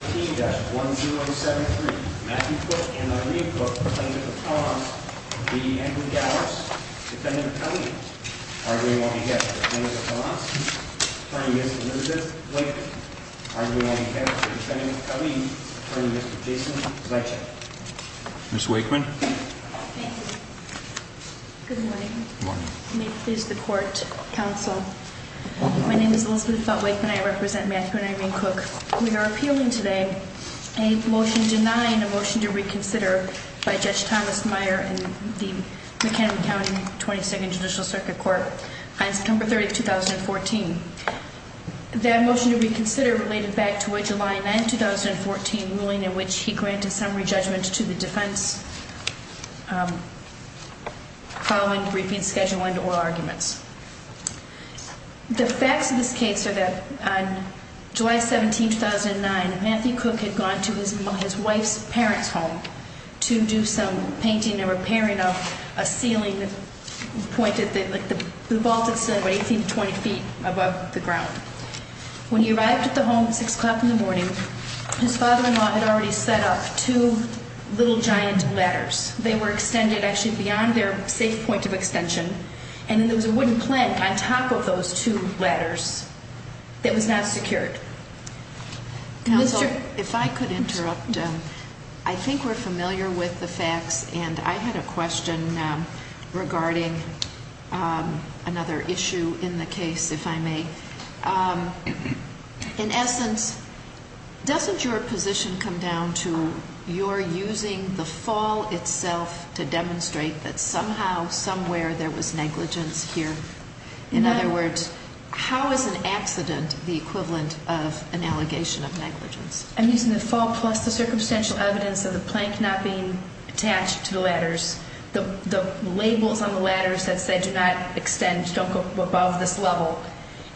15-1073 Matthew Cook and Irene Cook, Plaintiff of Colossus v. Andrew Gallos, Defendant of Kelly v. Ardrey-Wongahed, Defendant of Colossus, Attorney Mr. Elizabeth Wakeman, Ardrey-Wongahed, Defendant of Kelly, Attorney Mr. Jason Zaitchik. Ms. Wakeman. Thank you. Good morning. Good morning. May it please the Court, Counsel. My name is Elizabeth Felt-Wakeman. I represent Matthew and Irene Cook. We are appealing today a motion denying a motion to reconsider by Judge Thomas Meyer in the McHenry County 22nd Judicial Circuit Court on September 30, 2014. That motion to reconsider related back to a July 9, 2014, ruling in which he granted summary judgment to the defense following briefing schedule and oral arguments. The facts of this case are that on July 17, 2009, Matthew Cook had gone to his wife's parents' home to do some painting and repairing of a ceiling that pointed, the vaulted ceiling, about 18 to 20 feet above the ground. When he arrived at the home at 6 o'clock in the morning, his father-in-law had already set up two little giant ladders. They were extended actually beyond their safe point of extension, and there was a wooden plank on top of those two ladders that was not secured. Counsel, if I could interrupt. I think we're familiar with the facts, and I had a question regarding another issue in the case, if I may. In essence, doesn't your position come down to you're using the fall itself to demonstrate that somehow, somewhere there was negligence here? In other words, how is an accident the equivalent of an allegation of negligence? I'm using the fall plus the circumstantial evidence of the plank not being attached to the ladders. The labels on the ladders that said do not extend, don't go above this level,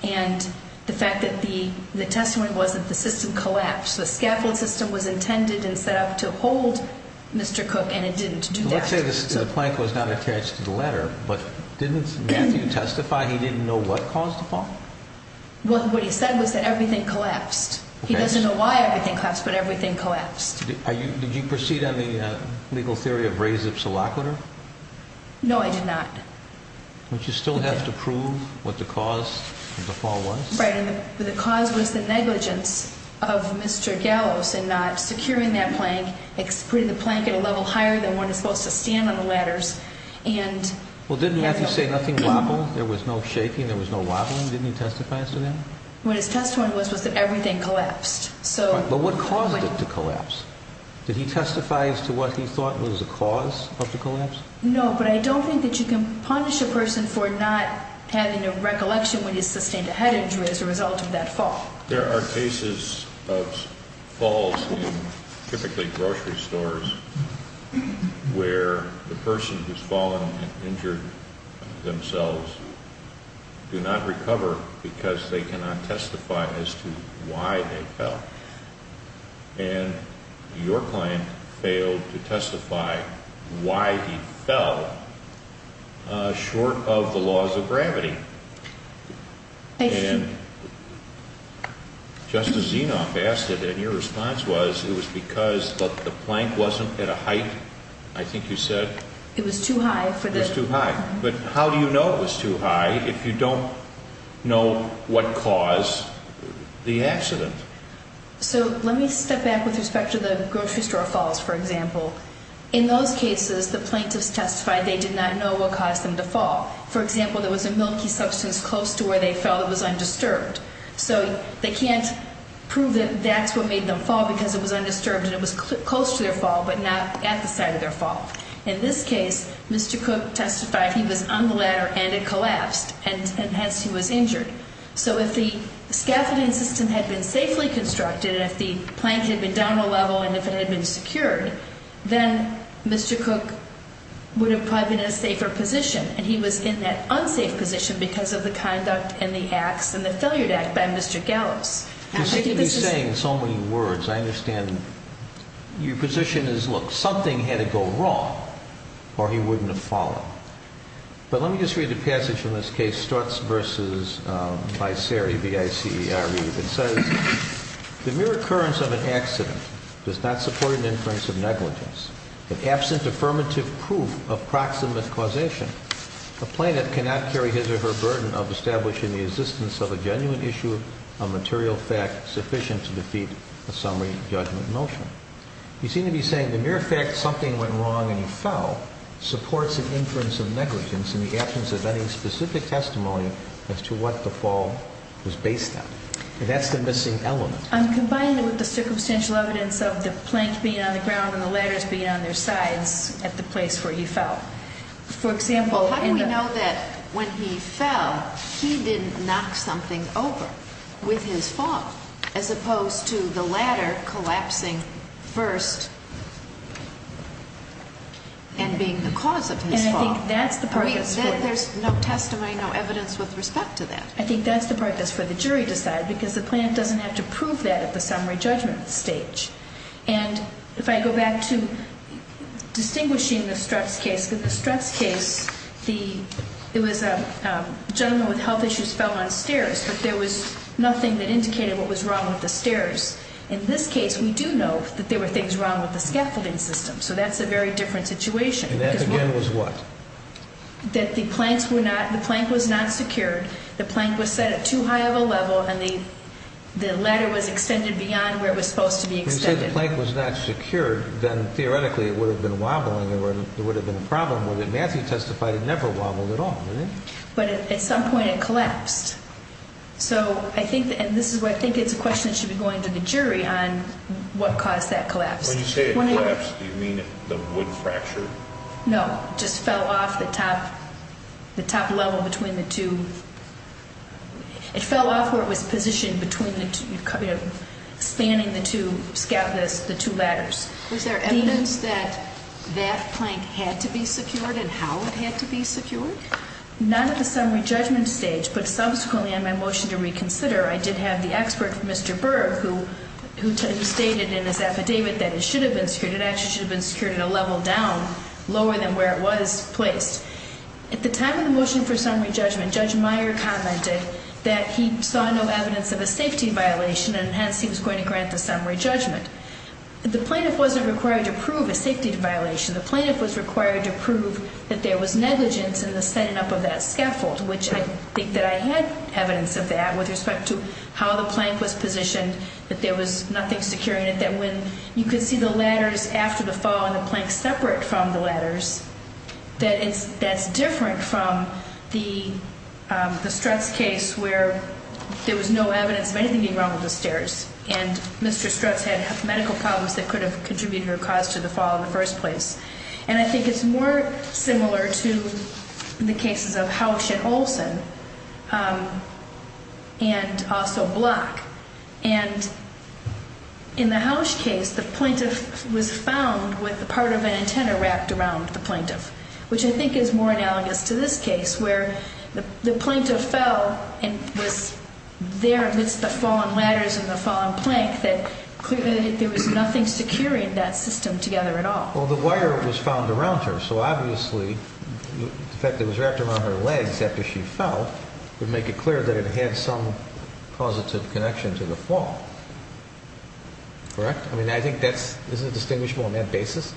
and the fact that the testimony was that the system collapsed. The scaffold system was intended and set up to hold Mr. Cook, and it didn't do that. Let's say the plank was not attached to the ladder, but didn't Matthew testify he didn't know what caused the fall? What he said was that everything collapsed. He doesn't know why everything collapsed, but everything collapsed. Did you proceed on the legal theory of res ipsa loquitur? No, I did not. But you still have to prove what the cause of the fall was? Right, and the cause was the negligence of Mr. Gallos in not securing that plank, putting the plank at a level higher than when it's supposed to stand on the ladders, and- Well, didn't Matthew say nothing wobbled, there was no shaking, there was no wobbling? Didn't he testify to that? What his testimony was was that everything collapsed, so- But what caused it to collapse? Did he testify as to what he thought was the cause of the collapse? No, but I don't think that you can punish a person for not having a recollection when he sustained a head injury as a result of that fall. There are cases of falls in typically grocery stores where the person who's fallen and injured themselves do not recover because they cannot testify as to why they fell. And your client failed to testify why he fell short of the laws of gravity. And Justice Zenoff asked it, and your response was it was because the plank wasn't at a height, I think you said- It was too high for the- It was too high. But how do you know it was too high if you don't know what caused the accident? So let me step back with respect to the grocery store falls, for example. In those cases, the plaintiffs testified they did not know what caused them to fall. For example, there was a milky substance close to where they fell that was undisturbed. So they can't prove that that's what made them fall because it was undisturbed and it was close to their fall but not at the site of their fall. In this case, Mr. Cook testified he was on the ladder and it collapsed, and hence he was injured. So if the scaffolding system had been safely constructed, if the plank had been down a level and if it had been secured, then Mr. Cook would have probably been in a safer position, and he was in that unsafe position because of the conduct and the acts and the failure to act by Mr. Gallows. You seem to be saying so many words. I understand your position is, look, something had to go wrong or he wouldn't have fallen. But let me just read a passage from this case, Strutts v. Vicerre, V-I-C-E-R-E, that says, the mere occurrence of an accident does not support an inference of negligence. And absent affirmative proof of proximate causation, a plaintiff cannot carry his or her burden of establishing the existence of a genuine issue, a material fact sufficient to defeat a summary judgment motion. You seem to be saying the mere fact something went wrong and he fell supports an inference of negligence in the absence of any specific testimony as to what the fall was based on. And that's the missing element. I'm combining it with the circumstantial evidence of the plank being on the ground and the ladders being on their sides at the place where he fell. How do we know that when he fell, he didn't knock something over with his fall, as opposed to the ladder collapsing first and being the cause of his fall? There's no testimony, no evidence with respect to that. I think that's the part that's for the jury to decide, because the plaintiff doesn't have to prove that at the summary judgment stage. And if I go back to distinguishing the Streps case, with the Streps case, it was a gentleman with health issues fell downstairs, but there was nothing that indicated what was wrong with the stairs. In this case, we do know that there were things wrong with the scaffolding system, so that's a very different situation. And that, again, was what? That the plank was not secured, the plank was set at too high of a level, and the ladder was extended beyond where it was supposed to be extended. If you say the plank was not secured, then theoretically it would have been wobbling or there would have been a problem with it. Matthew testified it never wobbled at all. But at some point it collapsed. So I think, and this is where I think it's a question that should be going to the jury on what caused that collapse. When you say it collapsed, do you mean the wood fracture? No, it just fell off the top level between the two. It fell off where it was positioned between the two, spanning the two ladders. Was there evidence that that plank had to be secured and how it had to be secured? Not at the summary judgment stage, but subsequently on my motion to reconsider, I did have the expert, Mr. Berg, who stated in his affidavit that it should have been secured. It actually should have been secured at a level down, lower than where it was placed. At the time of the motion for summary judgment, Judge Meyer commented that he saw no evidence of a safety violation, and hence he was going to grant the summary judgment. The plaintiff wasn't required to prove a safety violation. The plaintiff was required to prove that there was negligence in the setting up of that scaffold, which I think that I had evidence of that with respect to how the plank was positioned, that there was nothing securing it, that when you could see the ladders after the fall and the plank separate from the ladders, that that's different from the Strutz case where there was no evidence of anything being wrong with the stairs, and Mr. Strutz had medical problems that could have contributed or caused to the fall in the first place. And I think it's more similar to the cases of Housh and Olson and also Block. And in the Housh case, the plaintiff was found with part of an antenna wrapped around the plaintiff, which I think is more analogous to this case where the plaintiff fell and was there amidst the fallen ladders and the fallen plank, that clearly there was nothing securing that system together at all. Well, the wire was found around her, so obviously the fact that it was wrapped around her legs after she fell would make it clear that it had some positive connection to the fall, correct? I mean, I think that's – isn't it distinguishable on that basis?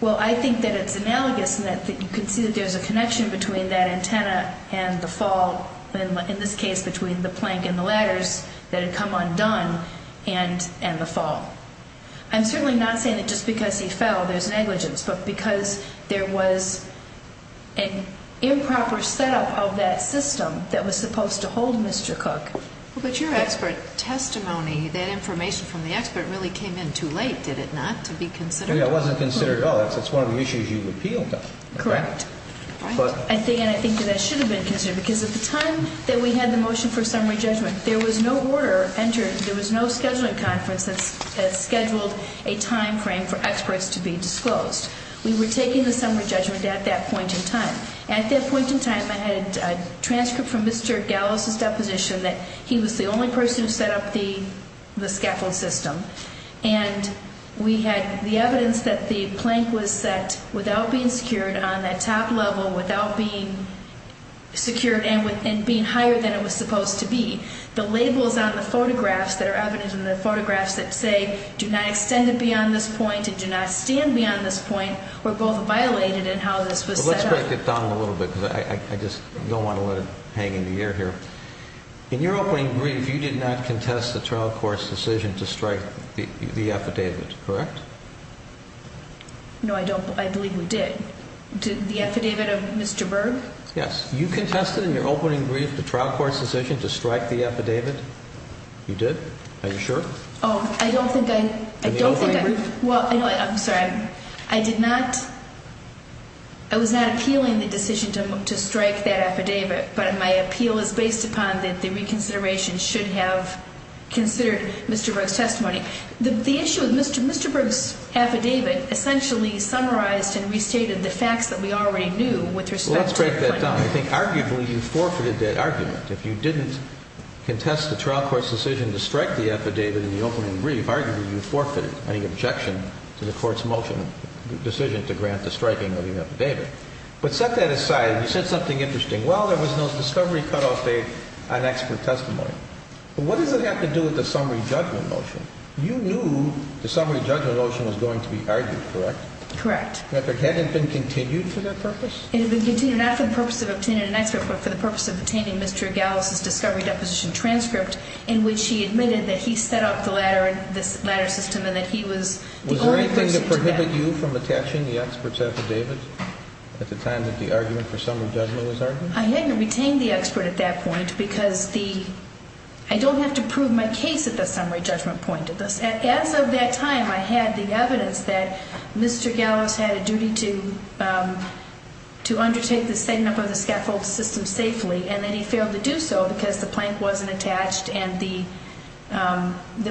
Well, I think that it's analogous in that you can see that there's a connection between that antenna and the fall, in this case between the plank and the ladders that had come undone and the fall. I'm certainly not saying that just because he fell there's negligence, but because there was an improper setup of that system that was supposed to hold Mr. Cook. But your expert testimony, that information from the expert really came in too late, did it not, to be considered? It wasn't considered at all. That's one of the issues you repealed. Correct. And I think that that should have been considered because at the time that we had the motion for summary judgment, there was no order entered, there was no scheduling conference that scheduled a timeframe for experts to be disclosed. We were taking the summary judgment at that point in time. At that point in time, I had a transcript from Mr. Gallos' deposition that he was the only person who set up the scaffold system, and we had the evidence that the plank was set without being secured on that top level, without being secured and being higher than it was supposed to be. The labels on the photographs that are evidence in the photographs that say, do not extend beyond this point and do not stand beyond this point were both violated in how this was set up. Well, let's break it down a little bit because I just don't want to let it hang in the air here. In your opening brief, you did not contest the trial court's decision to strike the affidavit, correct? No, I believe we did. The affidavit of Mr. Berg? Yes. You contested in your opening brief the trial court's decision to strike the affidavit? You did? Are you sure? Oh, I don't think I... In the opening brief? Well, I'm sorry. I did not... I was not appealing the decision to strike that affidavit, but my appeal is based upon that the reconsideration should have considered Mr. Berg's testimony. The issue with Mr. Berg's affidavit essentially summarized and restated the facts that we already knew with respect to... Well, let's break that down. I think arguably you forfeited that argument. If you didn't contest the trial court's decision to strike the affidavit in the opening brief, arguably you forfeited any objection to the court's motion, decision to grant the striking of the affidavit. But set that aside, you said something interesting. Well, there was no discovery cutoff date on expert testimony. But what does it have to do with the summary judgment motion? You knew the summary judgment motion was going to be argued, correct? Correct. That it hadn't been continued for that purpose? It had been continued not for the purpose of obtaining an expert, but for the purpose of obtaining Mr. Gallis' discovery deposition transcript in which he admitted that he set up the ladder system and that he was the only person to do that. Was there anything to prohibit you from attaching the expert's affidavit at the time that the argument for summary judgment was argued? I hadn't retained the expert at that point because I don't have to prove my case at the summary judgment point. As of that time, I had the evidence that Mr. Gallis had a duty to undertake the setting up of the scaffold system safely, and that he failed to do so because the plank wasn't attached and the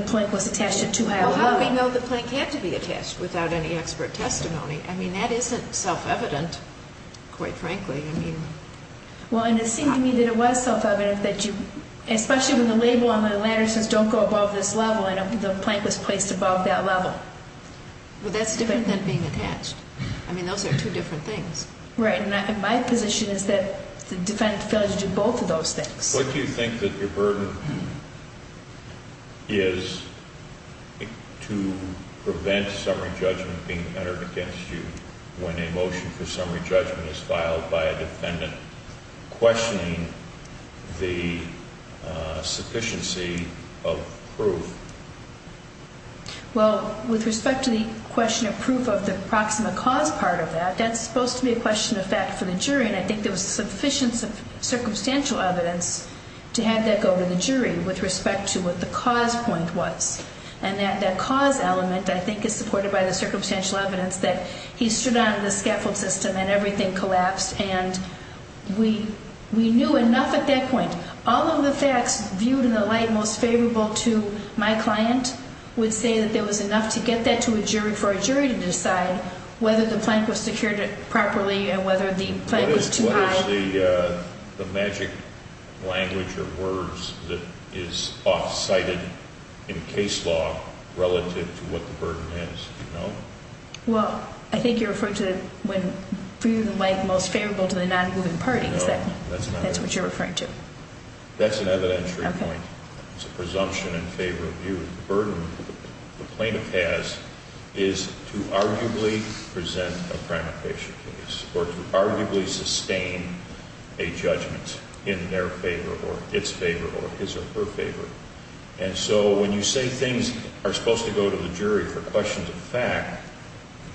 plank was attached at too high a level. Well, how do we know the plank had to be attached without any expert testimony? I mean, that isn't self-evident, quite frankly. Well, and it seemed to me that it was self-evident, especially when the label on the ladder says don't go above this level and the plank was placed above that level. Well, that's different than being attached. I mean, those are two different things. Right, and my position is that the defendant failed to do both of those things. What do you think that your burden is to prevent summary judgment being entered against you when a motion for summary judgment is filed by a defendant questioning the sufficiency of proof? Well, with respect to the question of proof of the proximate cause part of that, that's supposed to be a question of fact for the jury, and I think there was sufficient circumstantial evidence to have that go to the jury with respect to what the cause point was. And that cause element, I think, is supported by the circumstantial evidence that he stood on the scaffold system and everything collapsed, and we knew enough at that point. All of the facts viewed in the light most favorable to my client would say that there was enough to get that to a jury to decide whether the plank was secured properly and whether the plank was too high. What is the magic language or words that is off-cited in case law relative to what the burden is? Do you know? Well, I think you're referring to when viewed in light most favorable to the non-moving parties. No, that's not it. That's what you're referring to. That's an evidentiary point. Okay. It's a presumption in favor of view. The burden the plaintiff has is to arguably present a crime of patient case or to arguably sustain a judgment in their favor or its favor or his or her favor. And so when you say things are supposed to go to the jury for questions of fact,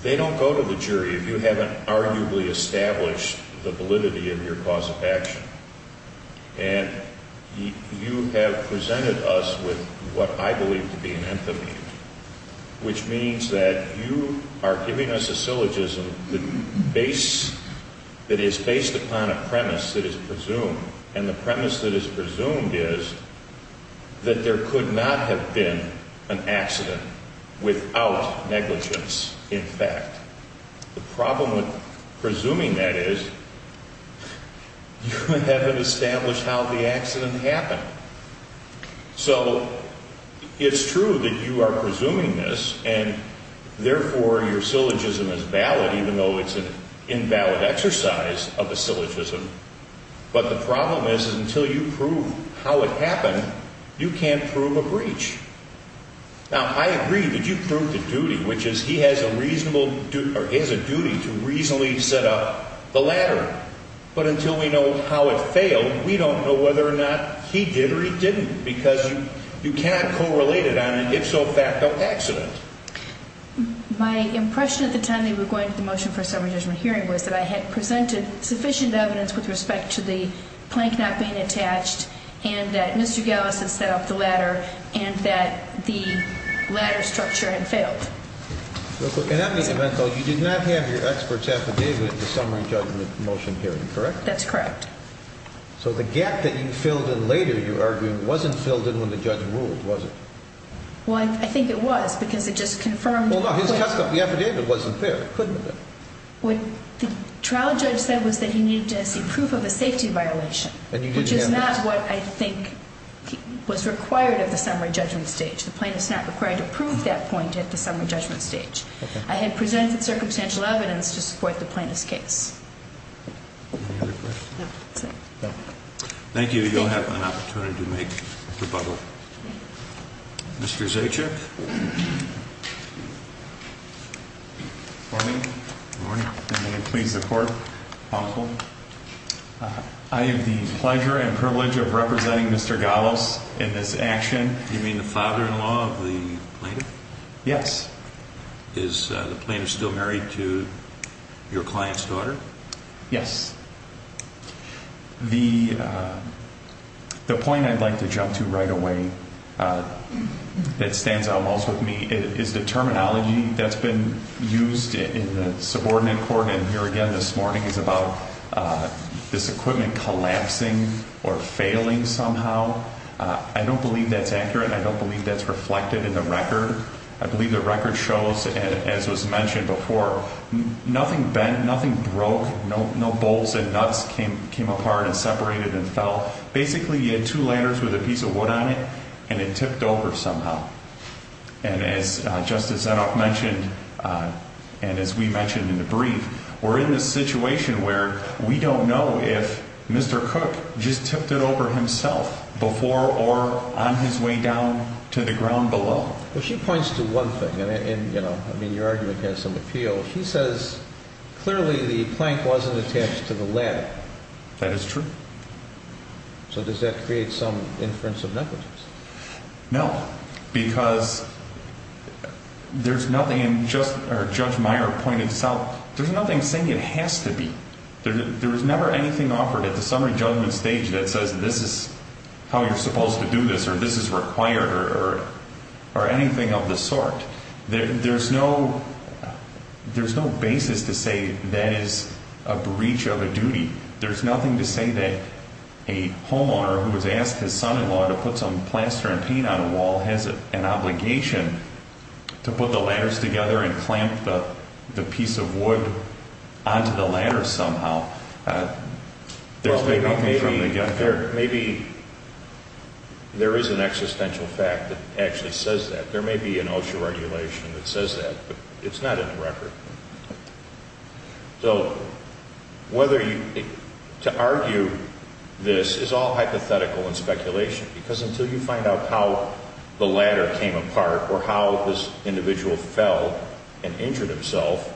they don't go to the jury if you haven't arguably established the validity of your cause of action. And you have presented us with what I believe to be an anthony, which means that you are giving us a syllogism that is based upon a premise that is presumed. And the premise that is presumed is that there could not have been an accident without negligence in fact. The problem with presuming that is you haven't established how the accident happened. So it's true that you are presuming this and therefore your syllogism is valid, even though it's an invalid exercise of a syllogism. But the problem is until you prove how it happened, you can't prove a breach. Now, I agree that you proved the duty, which is he has a reasonable or he has a duty to reasonably set up the ladder. But until we know how it failed, we don't know whether or not he did or he didn't because you cannot correlate it on an if-so-fact of accident. My impression at the time they were going to the motion for a summary judgment hearing was that I had presented sufficient evidence with respect to the plank not being attached and that Mr. Gallus had set up the ladder and that the ladder structure had failed. Real quick, in any event though, you did not have your expert's affidavit at the summary judgment motion hearing, correct? That's correct. So the gap that you filled in later, you're arguing, wasn't filled in when the judge ruled, was it? Well, I think it was because it just confirmed. Well, no, his testimony affidavit wasn't there. It couldn't have been. What the trial judge said was that he needed to see proof of a safety violation. Which is not what I think was required at the summary judgment stage. The plaintiff's not required to prove that point at the summary judgment stage. I had presented circumstantial evidence to support the plaintiff's case. Any other questions? No. Thank you. You'll have an opportunity to make rebuttal. Mr. Zajac. Good morning. Good morning. May it please the Court. Counsel. I have the pleasure and privilege of representing Mr. Gallos in this action. You mean the father-in-law of the plaintiff? Yes. Is the plaintiff still married to your client's daughter? Yes. The point I'd like to jump to right away that stands out most with me is the terminology that's been used in the subordinate court, and here again this morning, is about this equipment collapsing or failing somehow. I don't believe that's accurate, and I don't believe that's reflected in the record. I believe the record shows, as was mentioned before, nothing bent, nothing broke, no bolts and nuts came apart and separated and fell. Basically, you had two ladders with a piece of wood on it, and it tipped over somehow. And as Justice Zanoff mentioned, and as we mentioned in the brief, we're in this situation where we don't know if Mr. Cook just tipped it over himself before or on his way down to the ground below. Well, she points to one thing, and, you know, I mean, your argument has some appeal. She says clearly the plank wasn't attached to the ladder. That is true. So does that create some inference of negligence? No, because there's nothing in Judge Meyer's point itself, there's nothing saying it has to be. There was never anything offered at the summary judgment stage that says this is how you're supposed to do this or this is required or anything of the sort. There's no basis to say that is a breach of a duty. There's nothing to say that a homeowner who has asked his son-in-law to put some plaster and paint on a wall has an obligation to put the ladders together and clamp the piece of wood onto the ladder somehow. Well, maybe there is an existential fact that actually says that. There may be an OSHA regulation that says that, but it's not in the record. So whether to argue this is all hypothetical and speculation, because until you find out how the ladder came apart or how this individual fell and injured himself,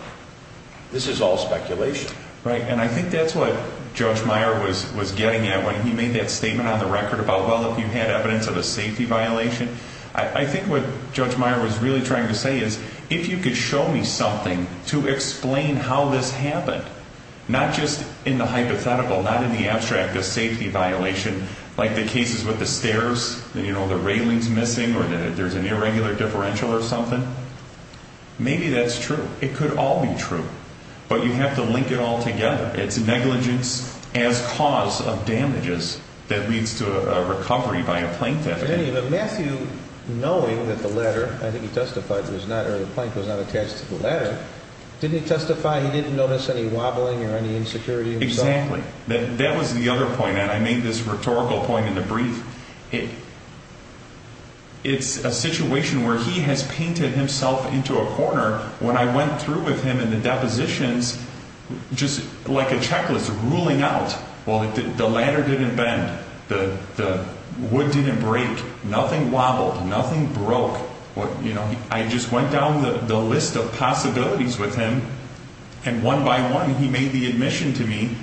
this is all speculation. Right, and I think that's what Judge Meyer was getting at when he made that statement on the record about, well, if you had evidence of a safety violation. I think what Judge Meyer was really trying to say is if you could show me something to explain how this happened, not just in the hypothetical, not in the abstract, the safety violation, like the cases with the stairs, you know, the railings missing or there's an irregular differential or something, maybe that's true. It could all be true, but you have to link it all together. It's negligence as cause of damages that leads to a recovery by a plaintiff. Matthew, knowing that the ladder, I think he testified, or the plank was not attached to the ladder, didn't he testify he didn't notice any wobbling or any insecurity himself? Exactly. That was the other point. I made this rhetorical point in the brief. It's a situation where he has painted himself into a corner. When I went through with him in the depositions, just like a checklist, ruling out, well, the ladder didn't bend, the wood didn't break, nothing wobbled, nothing broke. I just went down the list of possibilities with him, and one by one he made the admission to me,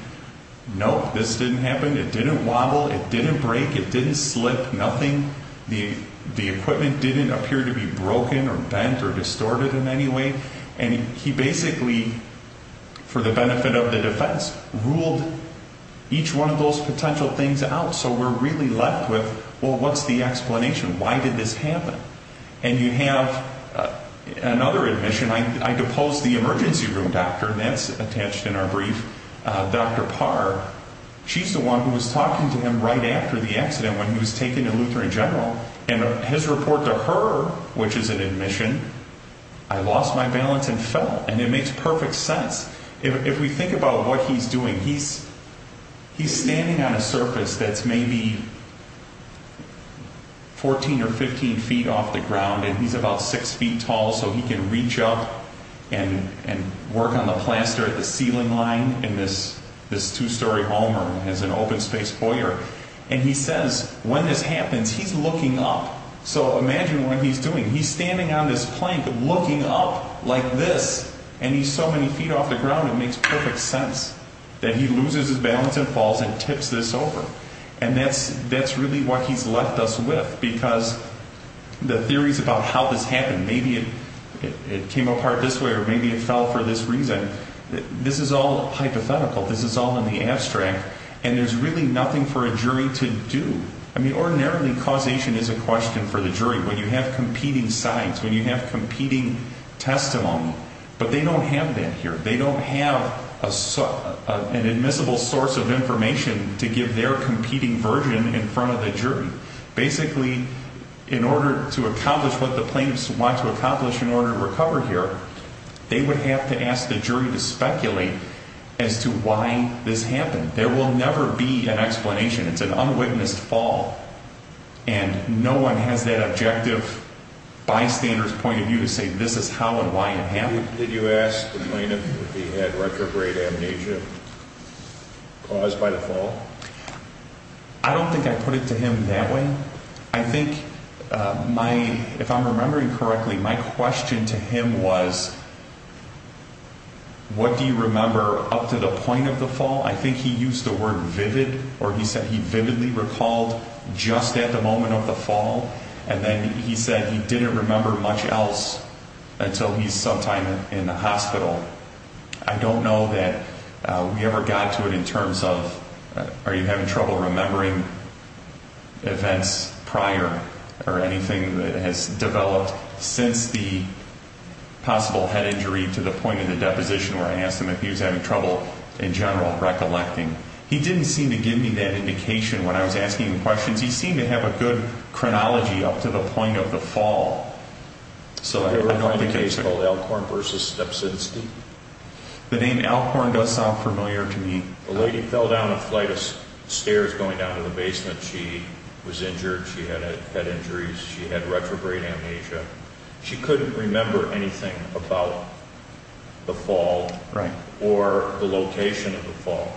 no, this didn't happen, it didn't wobble, it didn't break, it didn't slip, nothing, the equipment didn't appear to be broken or bent or distorted in any way. And he basically, for the benefit of the defense, ruled each one of those potential things out. So we're really left with, well, what's the explanation? Why did this happen? And you have another admission. I deposed the emergency room doctor, that's attached in our brief, Dr. Parr. She's the one who was talking to him right after the accident when he was taken to Lutheran General, and his report to her, which is an admission, I lost my balance and fell. And it makes perfect sense. If we think about what he's doing, he's standing on a surface that's maybe 14 or 15 feet off the ground, and he's about 6 feet tall, so he can reach up and work on the plaster at the ceiling line in this two-story home as an open-space boyar. And he says, when this happens, he's looking up. So imagine what he's doing. He's standing on this plank, looking up like this, and he's so many feet off the ground, it makes perfect sense that he loses his balance and falls and tips this over. And that's really what he's left us with, because the theories about how this happened, maybe it came apart this way or maybe it fell for this reason, this is all hypothetical, this is all in the abstract. And there's really nothing for a jury to do. I mean, ordinarily, causation is a question for the jury. When you have competing sides, when you have competing testimony, but they don't have that here. They don't have an admissible source of information to give their competing version in front of the jury. Basically, in order to accomplish what the plaintiffs want to accomplish in order to recover here, they would have to ask the jury to speculate as to why this happened. There will never be an explanation. It's an unwitnessed fall, and no one has that objective, bystander's point of view to say this is how and why it happened. Did you ask the plaintiff if he had retrograde amnesia caused by the fall? I don't know that we ever got to it in terms of, are you having trouble remembering events prior or anything that has developed since the possible head injury to the point of the deposition where I asked him if he was having trouble in general recollecting. He didn't seem to give me that indication when I was asking him questions. He seemed to have a good chronology up to the point of the fall. I have another case called Alcorn v. Stepsidesty. The name Alcorn does sound familiar to me. The lady fell down a flight of stairs going down to the basement. She was injured. She had head injuries. She had retrograde amnesia. She couldn't remember anything about the fall or the location of the fall.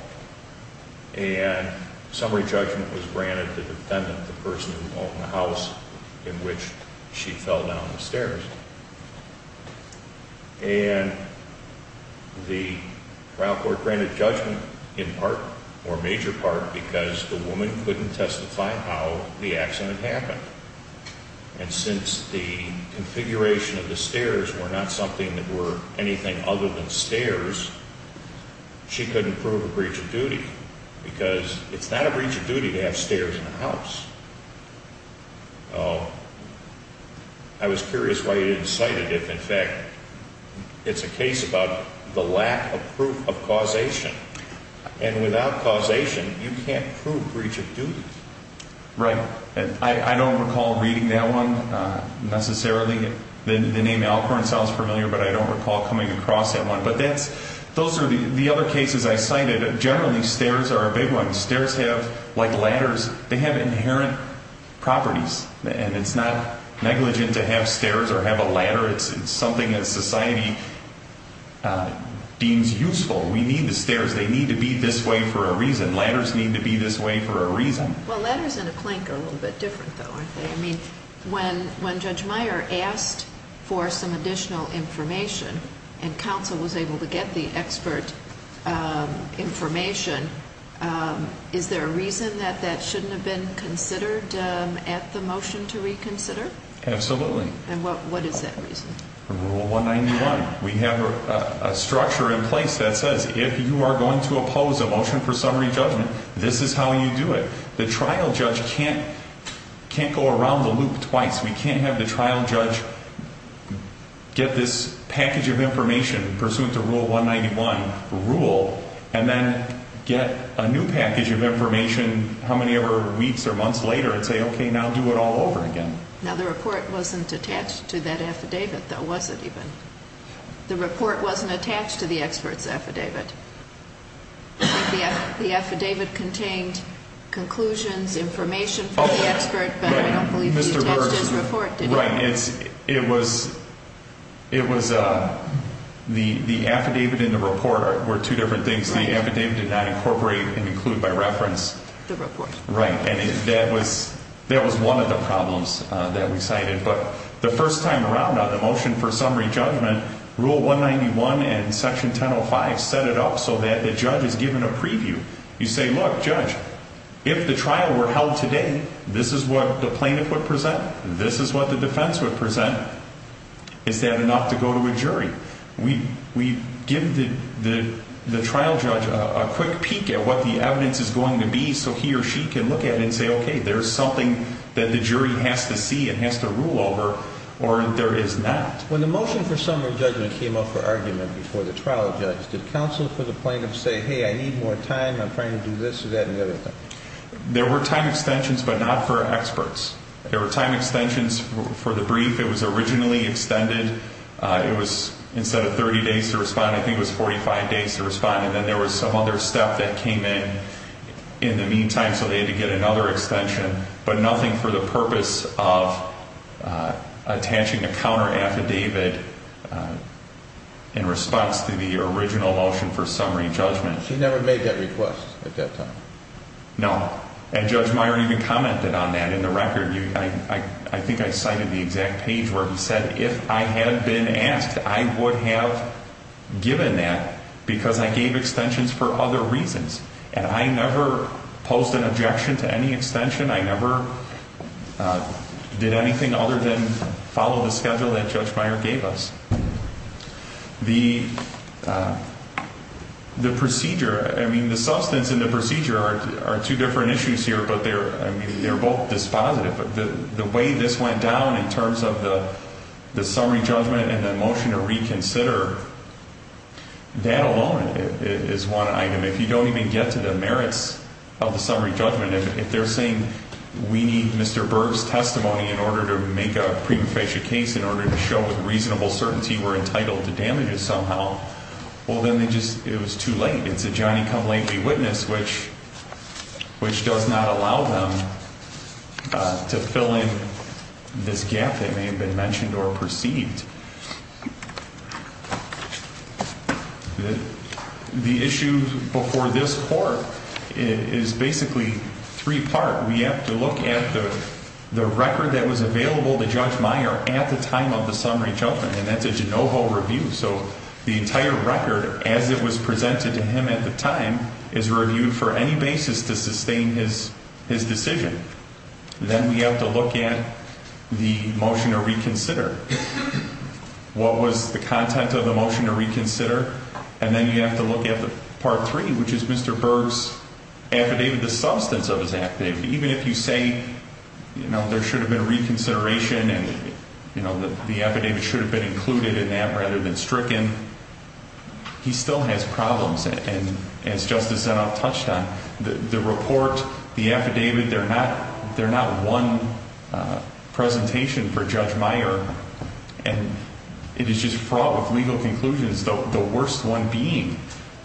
And summary judgment was granted to the defendant, the person who owned the house in which she fell down the stairs. And the trial court granted judgment in part or major part because the woman couldn't testify how the accident happened. And since the configuration of the stairs were not something that were anything other than stairs, she couldn't prove a breach of duty because it's not a breach of duty to have stairs in a house. I was curious why you didn't cite it. In fact, it's a case about the lack of proof of causation. And without causation, you can't prove breach of duty. Right. I don't recall reading that one necessarily. The name Alcorn sounds familiar, but I don't recall coming across that one. But those are the other cases I cited. Generally, stairs are a big one. Stairs have, like ladders, they have inherent properties. And it's not negligent to have stairs or have a ladder. It's something that society deems useful. We need the stairs. They need to be this way for a reason. Ladders need to be this way for a reason. Well, ladders and a plank are a little bit different, though, aren't they? I mean, when Judge Meyer asked for some additional information and counsel was able to get the expert information, is there a reason that that shouldn't have been considered at the motion to reconsider? Absolutely. And what is that reason? Rule 191. We have a structure in place that says if you are going to oppose a motion for summary judgment, this is how you do it. The trial judge can't go around the loop twice. We can't have the trial judge get this package of information pursuant to Rule 191, rule, and then get a new package of information how many ever weeks or months later and say, okay, now do it all over again. Now, the report wasn't attached to that affidavit, though, was it even? The report wasn't attached to the expert's affidavit. The affidavit contained conclusions, information from the expert, but I don't believe it's attached to his report, did it? That's right. It was the affidavit and the report were two different things. The affidavit did not incorporate and include by reference. The report. Right. And that was one of the problems that we cited. But the first time around on the motion for summary judgment, Rule 191 and Section 1005 set it up so that the judge is given a preview. You say, look, judge, if the trial were held today, this is what the plaintiff would present. This is what the defense would present. Is that enough to go to a jury? We give the trial judge a quick peek at what the evidence is going to be so he or she can look at it and say, okay, there's something that the jury has to see and has to rule over or there is not. When the motion for summary judgment came up for argument before the trial judge, did counsel for the plaintiff say, hey, I need more time, I'm trying to do this or that and the other thing? There were time extensions, but not for experts. There were time extensions for the brief. It was originally extended. It was instead of 30 days to respond, I think it was 45 days to respond. And then there was some other step that came in in the meantime. So they had to get another extension, but nothing for the purpose of attaching a counter affidavit in response to the original motion for summary judgment. She never made that request at that time? No. And Judge Meyer even commented on that in the record. I think I cited the exact page where he said if I had been asked, I would have given that because I gave extensions for other reasons. And I never posed an objection to any extension. I never did anything other than follow the schedule that Judge Meyer gave us. The procedure, I mean, the substance and the procedure are two different issues here, but they're both dispositive. But the way this went down in terms of the summary judgment and the motion to reconsider, that alone is one item. If you don't even get to the merits of the summary judgment, if they're saying we need Mr. Berg's testimony in order to make a prima facie case, in order to show with reasonable certainty we're entitled to damages somehow, well, then they just, it was too late. It's a Johnny-come-lately witness, which does not allow them to fill in this gap that may have been mentioned or perceived. The issue before this court is basically three-part. We have to look at the record that was available to Judge Meyer at the time of the summary judgment, and that's a de novo review. So the entire record, as it was presented to him at the time, is reviewed for any basis to sustain his decision. Then we have to look at the motion to reconsider. What was the content of the motion to reconsider? And then you have to look at the part three, which is Mr. Berg's affidavit, the substance of his affidavit. Even if you say, you know, there should have been reconsideration and, you know, the affidavit should have been included in that rather than stricken, he still has problems. And as Justice Zanuff touched on, the report, the affidavit, they're not one presentation for Judge Meyer. And it is just fraught with legal conclusions, the worst one being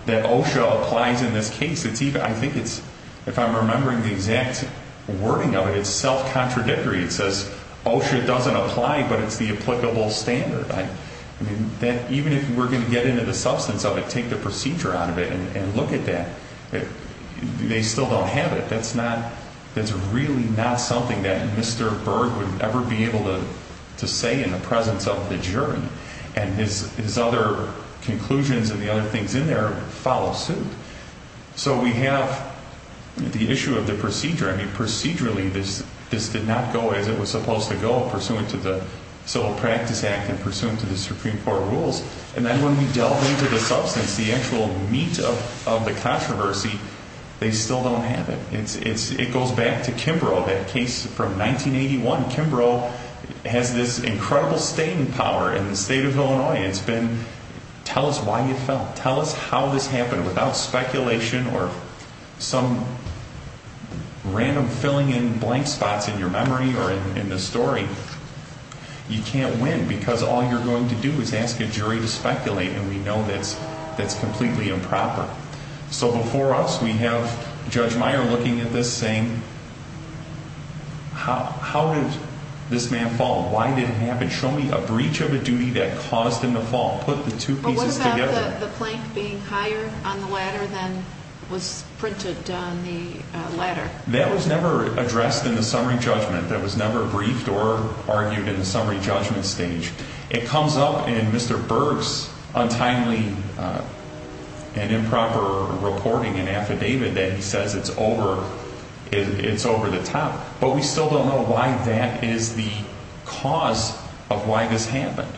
that OSHA applies in this case. I think it's, if I'm remembering the exact wording of it, it's self-contradictory. It says OSHA doesn't apply, but it's the applicable standard. I mean, even if we're going to get into the substance of it, take the procedure out of it and look at that, they still don't have it. That's not, that's really not something that Mr. Berg would ever be able to say in the presence of the jury. And his other conclusions and the other things in there follow suit. So we have the issue of the procedure. I mean, procedurally, this did not go as it was supposed to go pursuant to the Civil Practice Act and pursuant to the Supreme Court rules. And then when we delve into the substance, the actual meat of the controversy, they still don't have it. It goes back to Kimbrough, that case from 1981. Kimbrough has this incredible staying power in the state of Illinois. It's been, tell us why you fell. Tell us how this happened without speculation or some random filling in blank spots in your memory or in the story. You can't win because all you're going to do is ask a jury to speculate, and we know that's completely improper. So before us, we have Judge Meyer looking at this saying, how did this man fall? Why did it happen? Show me a breach of a duty that caused him to fall. Put the two pieces together. Was the plank being higher on the ladder than was printed on the ladder? That was never addressed in the summary judgment. That was never briefed or argued in the summary judgment stage. It comes up in Mr. Berg's untimely and improper reporting and affidavit that he says it's over the top. But we still don't know why that is the cause of why this happened.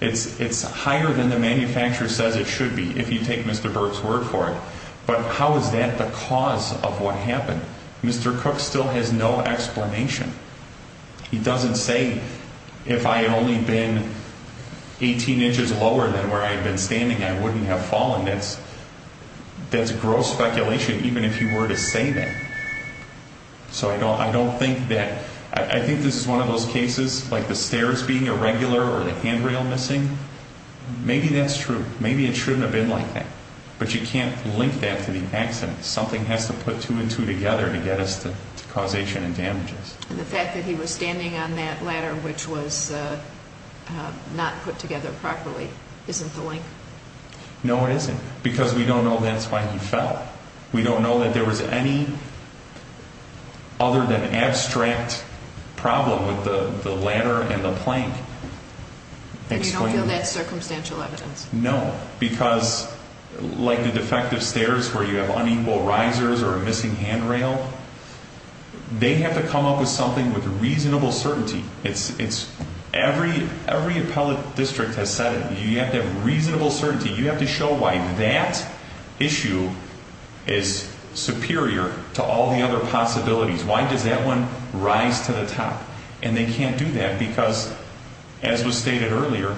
It's higher than the manufacturer says it should be, if you take Mr. Berg's word for it. But how is that the cause of what happened? Mr. Cook still has no explanation. He doesn't say if I only been 18 inches lower than where I've been standing, I wouldn't have fallen. That's that's gross speculation, even if you were to say that. So I don't I don't think that I think this is one of those cases like the stairs being irregular or the handrail missing. Maybe that's true. Maybe it shouldn't have been like that. But you can't link that to the accident. Something has to put two and two together to get us to causation and damages. And the fact that he was standing on that ladder, which was not put together properly, isn't the link? No, it isn't, because we don't know that's why he fell. We don't know that there was any other than abstract problem with the ladder and the plank. You don't feel that's circumstantial evidence? No, because like the defective stairs where you have unequal risers or a missing handrail, they have to come up with something with reasonable certainty. It's it's every every appellate district has said you have to have reasonable certainty. You have to show why that issue is superior to all the other possibilities. Why does that one rise to the top? And they can't do that because, as was stated earlier,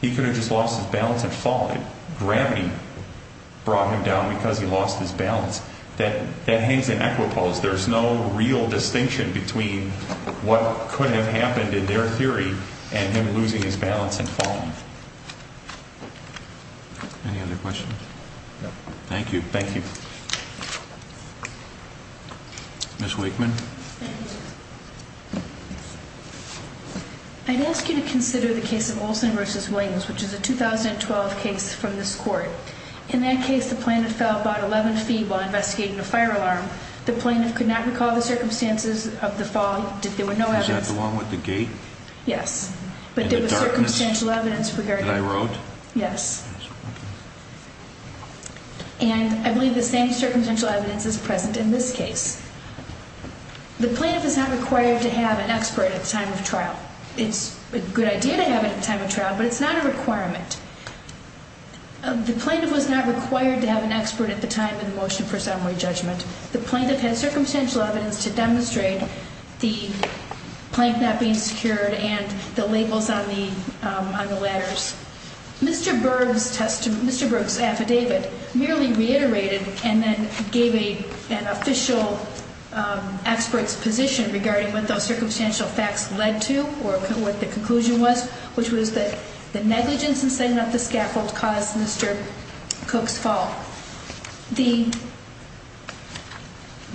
he could have just lost his balance and fall. Gravity brought him down because he lost his balance. That that hangs in equipoise. There's no real distinction between what could have happened in their theory and him losing his balance and falling. Any other questions? Thank you. Thank you. Miss Wakeman. I'd ask you to consider the case of Olson versus Williams, which is a 2012 case from this court. In that case, the plaintiff fell about 11 feet while investigating a fire alarm. The plaintiff could not recall the circumstances of the fall. Did there were no evidence along with the gate? Yes. But there was circumstantial evidence that I wrote. Yes. And I believe the same circumstantial evidence is present in this case. The plaintiff is not required to have an expert at the time of trial. It's a good idea to have a time of trial, but it's not a requirement. The plaintiff was not required to have an expert at the time of the motion for summary judgment. The plaintiff had circumstantial evidence to demonstrate the plank not being secured and the labels on the on the ladders. Mr. Berg's affidavit merely reiterated and then gave an official expert's position regarding what those circumstantial facts led to or what the conclusion was, which was that the negligence in setting up the scaffold caused Mr. Cook's fall. The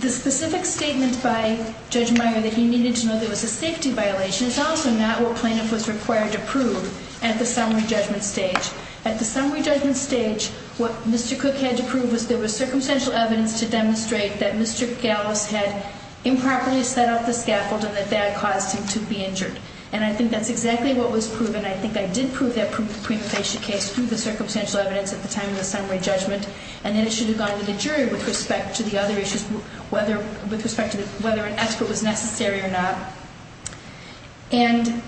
specific statement by Judge Meyer that he needed to know there was a safety violation is also not what plaintiff was required to prove at the summary judgment stage. At the summary judgment stage, what Mr. Cook had to prove was there was circumstantial evidence to demonstrate that Mr. Gallus had improperly set up the scaffold and that that caused him to be injured. And I think that's exactly what was proven. I think I did prove that prima facie case through the circumstantial evidence at the time of the summary judgment. And then it should have gone to the jury with respect to the other issues, whether with respect to whether an expert was necessary or not. And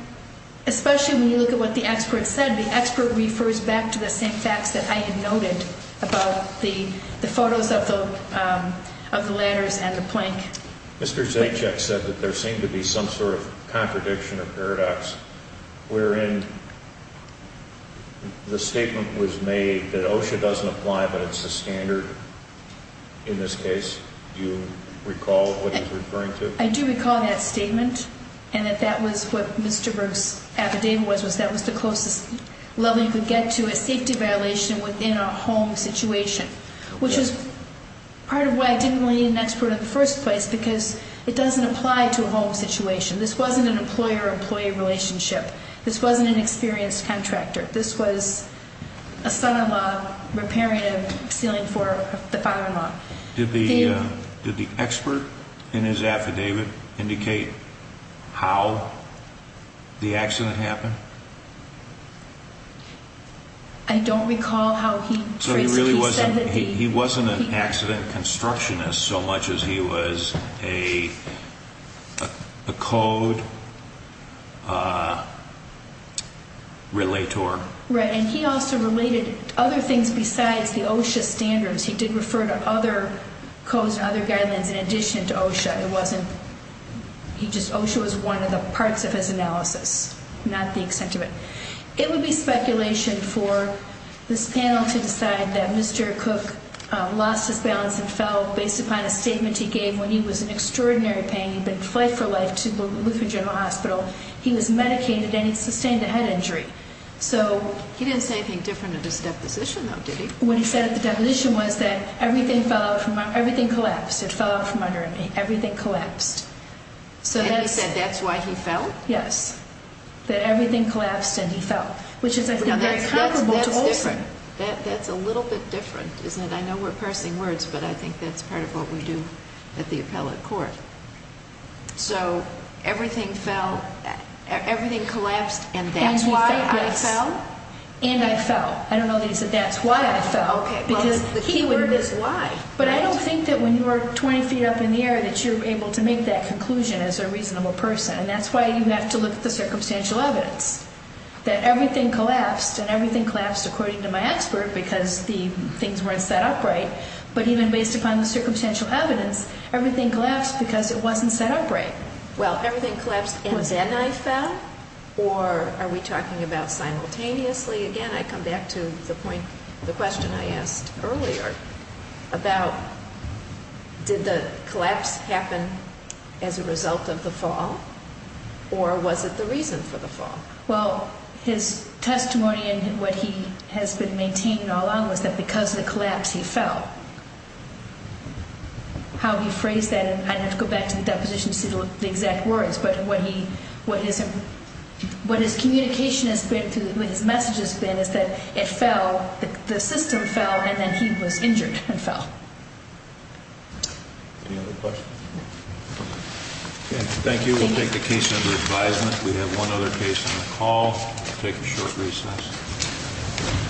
especially when you look at what the expert said, the expert refers back to the same facts that I had noted about the photos of the ladders and the plank. Mr. Zajac said that there seemed to be some sort of contradiction or paradox wherein the statement was made that OSHA doesn't apply, but it's the standard. In this case, do you recall what he's referring to? I do recall that statement and that that was what Mr. Berg's affidavit was, was that was the closest level you could get to a safety violation within a home situation, which is part of why I didn't need an expert in the first place, because it doesn't apply to a home situation. This wasn't an employer-employee relationship. This wasn't an experienced contractor. This was a son-in-law repairing a ceiling for the father-in-law. Did the expert in his affidavit indicate how the accident happened? I don't recall how he... So he really wasn't... He wasn't an accident constructionist so much as he was a code relator. Right, and he also related other things besides the OSHA standards. He did refer to other codes and other guidelines in addition to OSHA. It wasn't... OSHA was one of the parts of his analysis, not the extent of it. It would be speculation for this panel to decide that Mr. Cook lost his balance and fell based upon a statement he gave when he was in extraordinary pain. He'd been in flight for life to the Lutheran General Hospital. He was medicated and he sustained a head injury. He didn't say anything different at his deposition, though, did he? What he said at the deposition was that everything collapsed. It fell out from under me. Everything collapsed. And he said that's why he fell? Yes. That everything collapsed and he fell, which is, I think, very comparable to Olson. That's a little bit different, isn't it? I know we're parsing words, but I think that's part of what we do at the appellate court. So everything fell... Everything collapsed and that's why I fell? And he fell, yes. I don't know that he said that's why I fell. Okay, well, the key word is why. But I don't think that when you're 20 feet up in the air that you're able to make that conclusion as a reasonable person. And that's why you have to look at the circumstantial evidence. That everything collapsed and everything collapsed according to my expert because the things weren't set up right. But even based upon the circumstantial evidence, everything collapsed because it wasn't set up right. Well, everything collapsed and then I fell? Or are we talking about simultaneously? Again, I come back to the question I asked earlier about did the collapse happen as a result of the fall? Or was it the reason for the fall? Well, his testimony and what he has been maintaining all along was that because of the collapse, he fell. How he phrased that, and I'd have to go back to the deposition to see the exact words, but what his message has been is that it fell, the system fell, and then he was injured and fell. Any other questions? Okay, thank you. We'll take the case under advisement. We have one other case on the call. We'll take a short recess.